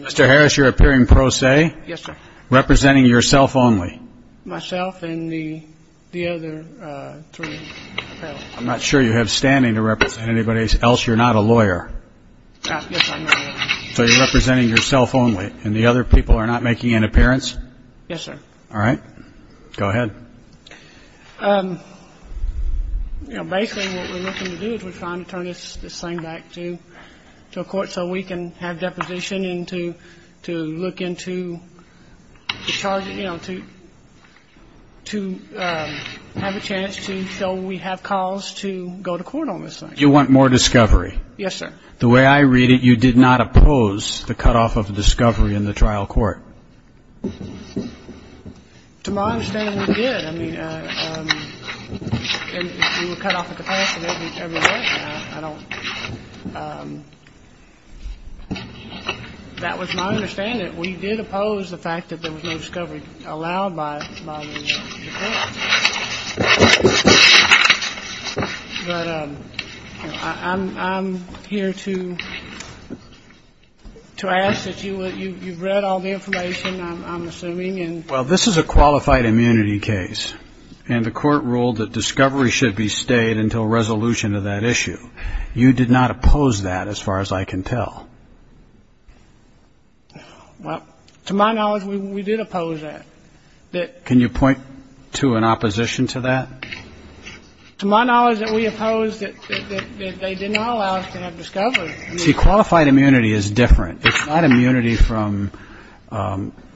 Mr. Harris, you're appearing pro se, representing yourself only. Myself and the other three. I'm not sure you have standing to represent anybody else. You're not a lawyer. So you're representing yourself only and the other people are not making an appearance. Yes, sir. All right. Go ahead. Basically what we're looking to do is we're trying to turn this thing back to a court so we can have deposition and to look into the charges, you know, to have a chance to show we have cause to go to court on this thing. You want more discovery. Yes, sir. The way I read it, you did not oppose the cutoff of discovery in the trial court. To my understanding, we did. I mean, we were cut off at the pass of every court. That was my understanding. We did oppose the fact that there was no discovery allowed by the court. But I'm here to to ask that you read all the information I'm assuming. And while this is a qualified immunity case and the court ruled that discovery should be stayed until resolution of that issue, you did not oppose that as far as I can tell. Well, to my knowledge, we did oppose that. Can you point to an opposition to that? To my knowledge that we opposed that they did not allow us to have discovery. See, qualified immunity is different. It's not immunity from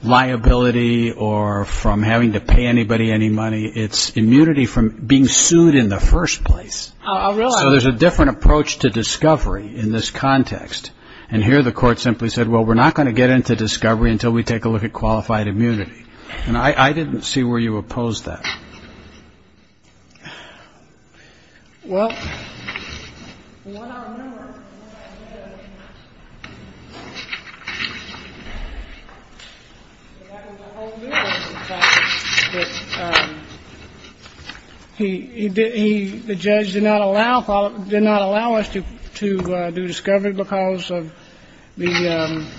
liability or from having to pay anybody any money. It's immunity from being sued in the first place. So there's a different approach to discovery in this context. And here the court simply said, well, we're not going to get into discovery until we take a look at qualified immunity. And I didn't see where you opposed that. Well, the judge did not allow us to do discovery because of the.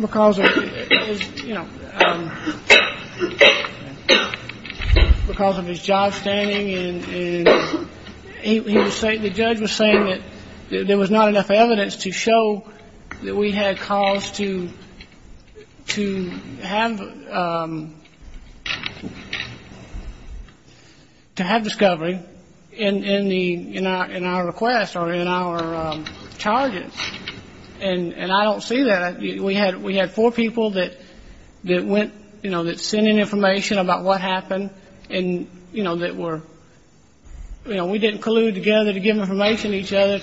Because, you know, because of his job standing and he was saying the judge was saying that there was not enough evidence to show that we had cause to have discovery in our request or in our charges. And I don't see that. We had four people that went, you know, that sent in information about what happened and, you know, that were, you know, we didn't collude together to give information to each other.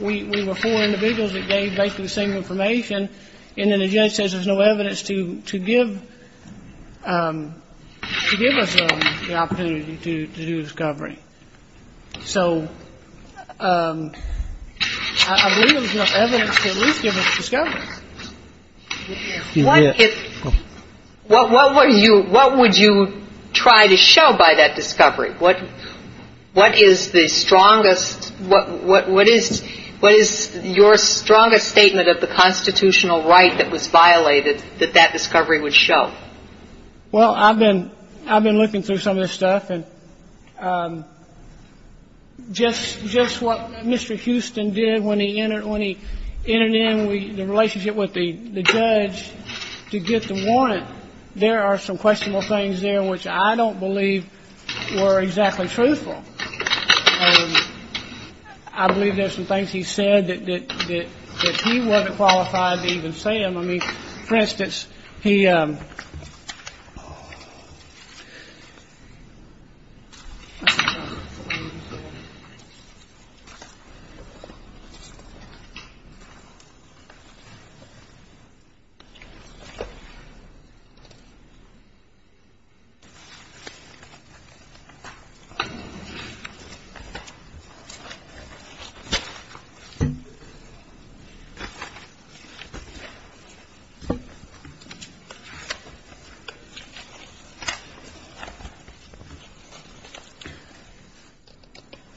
We were four individuals that gave basically the same information. And then the judge says there's no evidence to give us the opportunity to do discovery. So I believe there was enough evidence to at least give us discovery. What would you try to show by that discovery? What is the strongest – what is your strongest statement of the constitutional right that was violated that that discovery would show? Well, I've been looking through some of this stuff. And just what Mr. Houston did when he entered in the relationship with the judge to get the warrant, there are some questionable things there which I don't believe were exactly truthful. I believe there's some things he said that he wasn't qualified to even say. I mean, for instance, he. I don't know.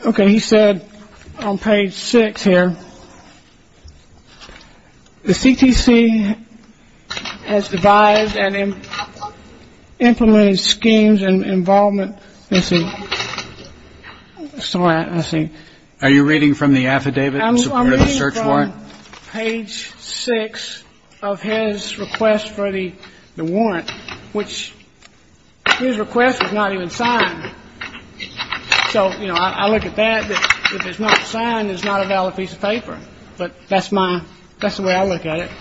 Okay. He said on page six here, the CTC has devised and implemented schemes and involvement. Are you reading from the affidavit? I'm reading from page six of his request for the warrant, which his request was not even signed. So, you know, I look at that. If it's not signed, it's not a valid piece of paper. But that's my – that's the way I look at it.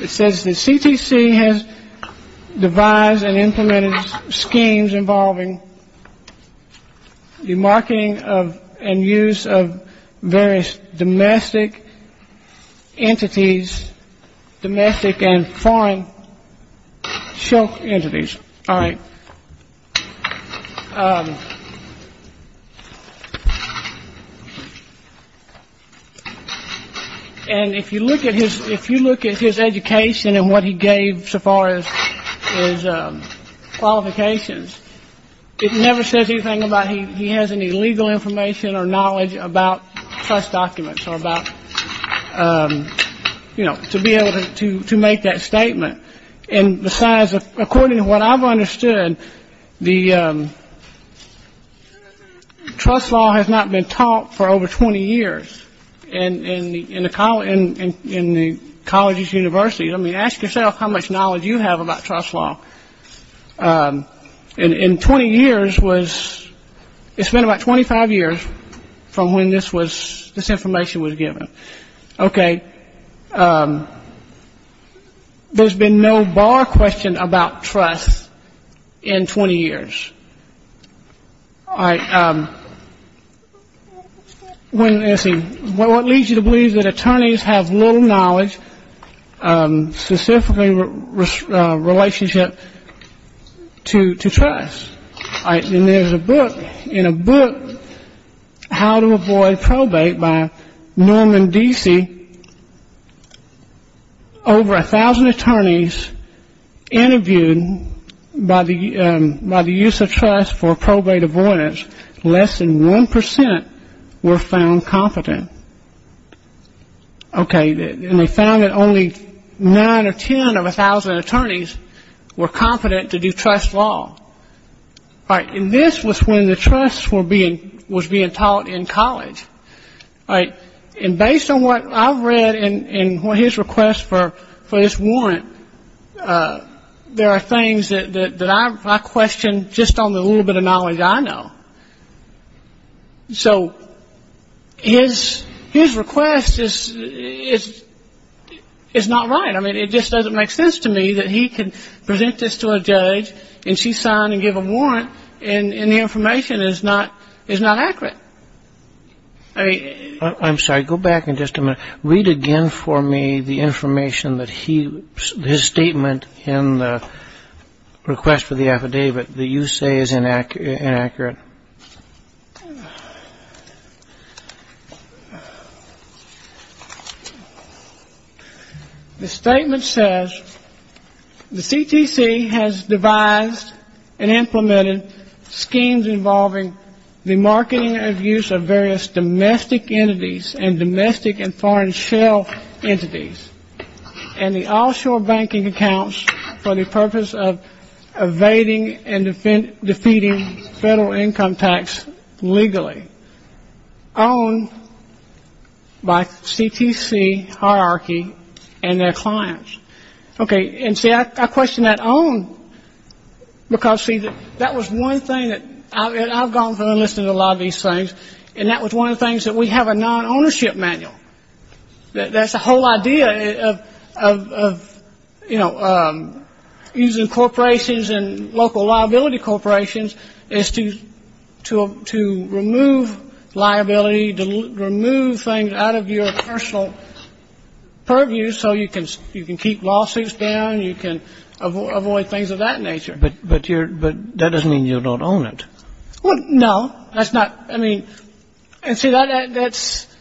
It says the CTC has devised and implemented schemes involving the marketing of and use of various domestic entities, domestic and foreign shell entities. All right. And if you look at his – if you look at his education and what he gave so far as his qualifications, it never says anything about he has any legal information or knowledge about trust documents or about, you know, to be able to make that statement. And besides, according to what I've understood, the trust law has not been taught for over 20 years in the colleges, universities. I mean, ask yourself how much knowledge you have about trust law. In 20 years was – it's been about 25 years from when this was – this information was given. Okay. There's been no bar question about trust in 20 years. All right. Let's see. What leads you to believe that attorneys have little knowledge, specifically relationship to trust? All right. And there's a book – in a book, How to Avoid Probate by Norman Deasy, over 1,000 attorneys interviewed by the – by the use of trust for probate avoidance, less than 1 percent were found competent. Okay. And they found that only 9 or 10 of 1,000 attorneys were confident to do trust law. All right. And this was when the trust was being taught in college. All right. And based on what I've read in his request for this warrant, there are things that I question just on the little bit of knowledge I know. So his – his request is – is not right. I mean, it just doesn't make sense to me that he can present this to a judge and she sign and give a warrant and the information is not – is not accurate. I mean – I'm sorry. Go back in just a minute. Read again for me the information that he – his statement in the request for the affidavit that you say is inaccurate. The statement says the CTC has devised and implemented schemes involving the marketing of use of various domestic entities and foreign shell entities and the offshore banking accounts for the purpose of evading and defeating federal income tax legally owned by CTC hierarchy and their clients. Okay. And see, I question that own because, see, that was one thing that – and I've gone through and listened to a lot of these things, and that was one of the things that we have a non-ownership manual. That's the whole idea of, you know, using corporations and local liability corporations is to remove liability, to remove things out of your personal purview so you can keep lawsuits down, you can avoid things of that nature. But that doesn't mean you don't own it. Well, no. That's not – I mean – and see, that's –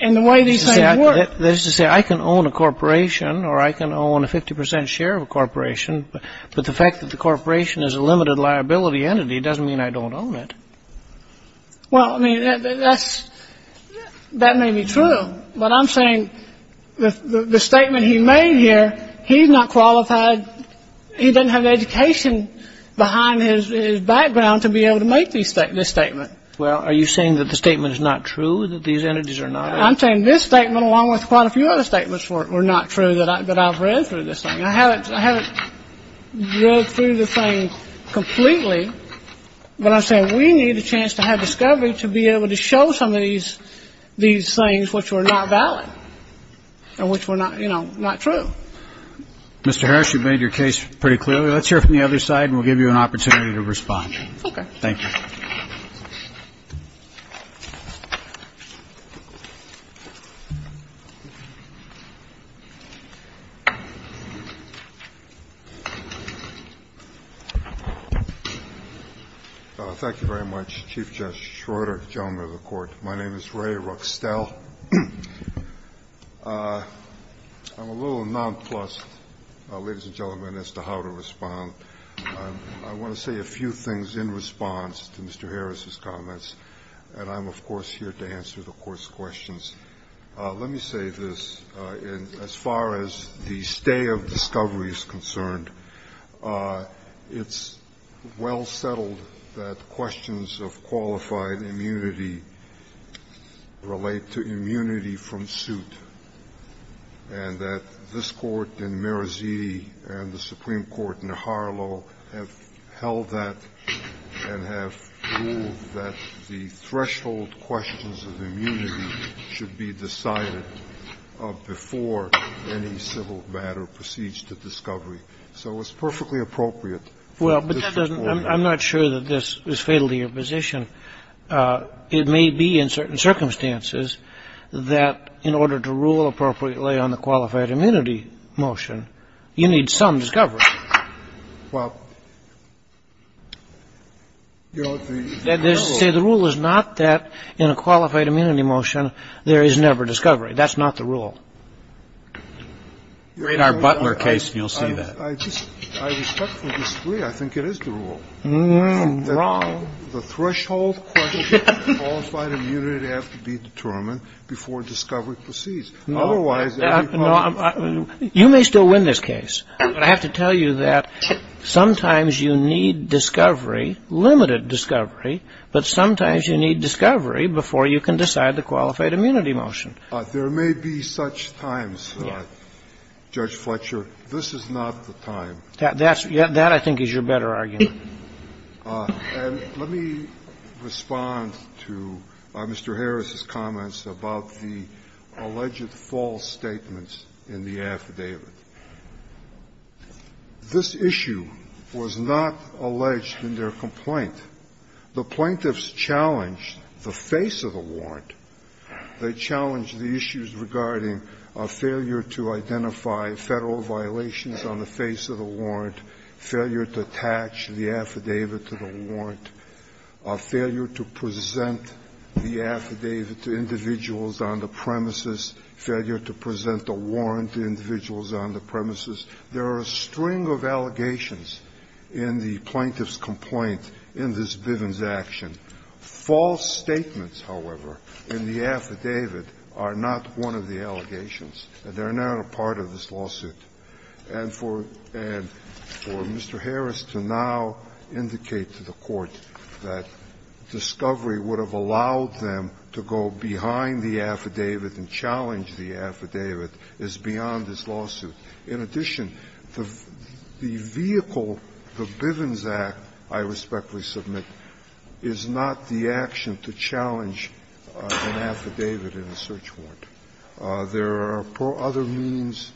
and the way these things work – That is to say, I can own a corporation or I can own a 50 percent share of a corporation, but the fact that the corporation is a limited liability entity doesn't mean I don't own it. Well, I mean, that's – that may be true, but I'm saying the statement he made here, he's not qualified – he doesn't have the education behind his background to be able to make this statement. Well, are you saying that the statement is not true, that these entities are not – I'm saying this statement, along with quite a few other statements, were not true that I've read through this thing. I haven't read through the thing completely, but I'm saying we need a chance to have discovery to be able to show some of these things which were not valid and which were not, you know, not true. Mr. Harris, you've made your case pretty clearly. Let's hear from the other side, and we'll give you an opportunity to respond. Okay. Thank you. Thank you very much, Chief Justice Schroeder, gentlemen of the Court. My name is Ray Ruckstel. I'm a little nonplussed, ladies and gentlemen, as to how to respond. I want to say a few things in response to Mr. Harris's comments, and I'm, of course, here to answer the Court's questions. Let me say this. As far as the stay of discovery is concerned, it's well settled that questions of qualified immunity relate to immunity from suit, and that this Court in Meraziti and the Supreme Court in Harlow have held that and have ruled that the threshold questions of immunity should be decided before any civil matter proceeds to discovery. So it's perfectly appropriate for this Court. Well, but that doesn't – I'm not sure that this is fatal to your position. It may be in certain circumstances that in order to rule appropriately on the qualified immunity motion, you need some discovery. Well, you know, the – See, the rule is not that in a qualified immunity motion there is never discovery. That's not the rule. Read our Butler case and you'll see that. I respectfully disagree. I think it is the rule. Wrong. The threshold questions of qualified immunity have to be determined before discovery proceeds. Otherwise, everybody – You may still win this case. But I have to tell you that sometimes you need discovery, limited discovery, but sometimes you need discovery before you can decide the qualified immunity motion. There may be such times, Judge Fletcher. This is not the time. That I think is your better argument. And let me respond to Mr. Harris's comments about the alleged false statements in the affidavit. This issue was not alleged in their complaint. The plaintiffs challenged the face of the warrant. They challenged the issues regarding a failure to identify Federal violations on the face of the warrant, failure to attach the affidavit to the warrant, a failure to present the affidavit to individuals on the premises, failure to present the warrant to individuals on the premises. There are a string of allegations in the plaintiff's complaint in this Bivens action. False statements, however, in the affidavit are not one of the allegations and they are not a part of this lawsuit. And for Mr. Harris to now indicate to the Court that discovery would have allowed them to go behind the affidavit and challenge the affidavit is beyond this lawsuit. In addition, the vehicle, the Bivens Act, I respectfully submit, is not the action to challenge an affidavit in a search warrant. There are other means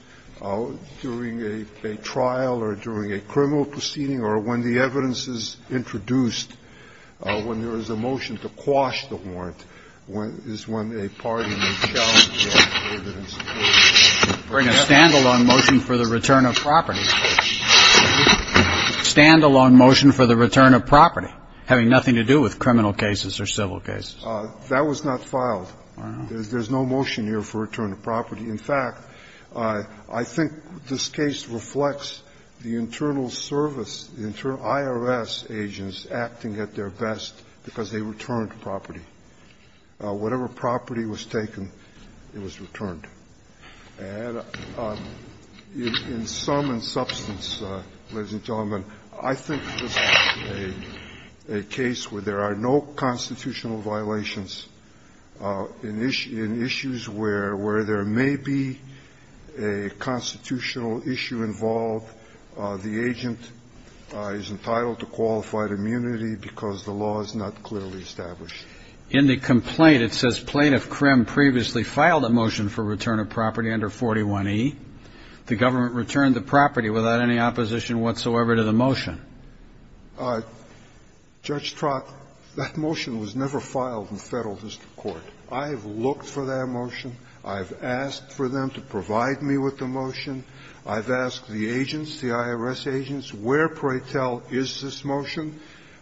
during a trial or during a criminal proceeding or when the evidence is introduced, when there is a motion to quash the warrant, is when a party may challenge the affidavit. with another agency or any agency that has prior experience. Breyer. Make a stand-alone motion for the return of property. Stand-alone motion for the return of property having nothing to do with criminal cases or civil cases. That was not filed. There's no motion here for return of property. In fact, I think this case reflects the internal service, the internal IRS agents acting at their best because they returned property. Whatever property was taken, it was returned. And in sum and substance, ladies and gentlemen, I think this is a case where there are no constitutional violations in issues where there may be a constitutional issue involved. The agent is entitled to qualified immunity because the law is not clearly established. In the complaint, it says plaintiff Krim previously filed a motion for return of property under 41e. The government returned the property without any opposition whatsoever to the motion. Judge Trott, that motion was never filed in Federal district court. I have looked for that motion. I have asked for them to provide me with the motion. I've asked the agents, the IRS agents, where, pray tell, is this motion?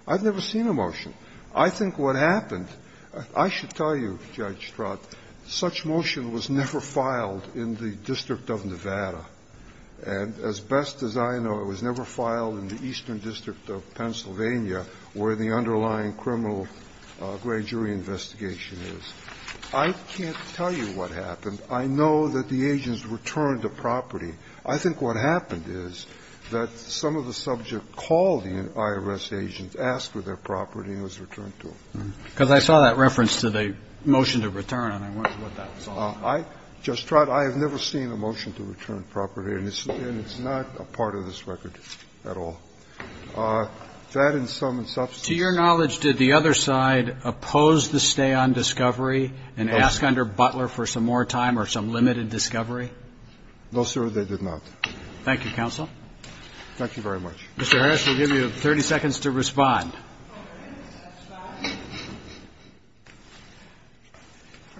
I've never seen a motion. I think what happened – I should tell you, Judge Trott, such motion was never filed in the District of Nevada. And as best as I know, it was never filed in the Eastern District of Pennsylvania where the underlying criminal grade jury investigation is. I can't tell you what happened. I know that the agents returned the property. I think what happened is that some of the subject called the IRS agents, asked for their property, and it was returned to them. Because I saw that reference to the motion to return, and I wondered what that was all about. I, Judge Trott, I have never seen a motion to return property, and it's not a part of this record at all. To add in sum and substance to your knowledge, did the other side oppose the stay on discovery and ask under Butler for some more time or some limited discovery? No, sir, they did not. Thank you, counsel. Thank you very much. Mr. Harris, we'll give you 30 seconds to respond.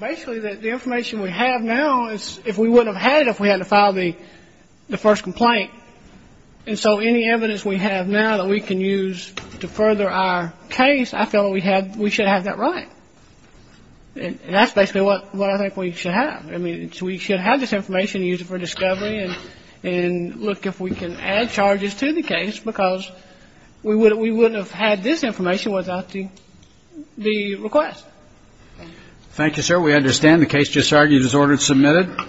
Basically, the information we have now is if we wouldn't have had it if we hadn't filed the first complaint, and so any evidence we have now that we can use to further our case, I feel that we should have that right. And that's basically what I think we should have. I mean, we should have this information and use it for discovery and look if we can add to the record. And I think we should have this information without the request. Thank you, sir. We understand the case just argued is ordered and submitted.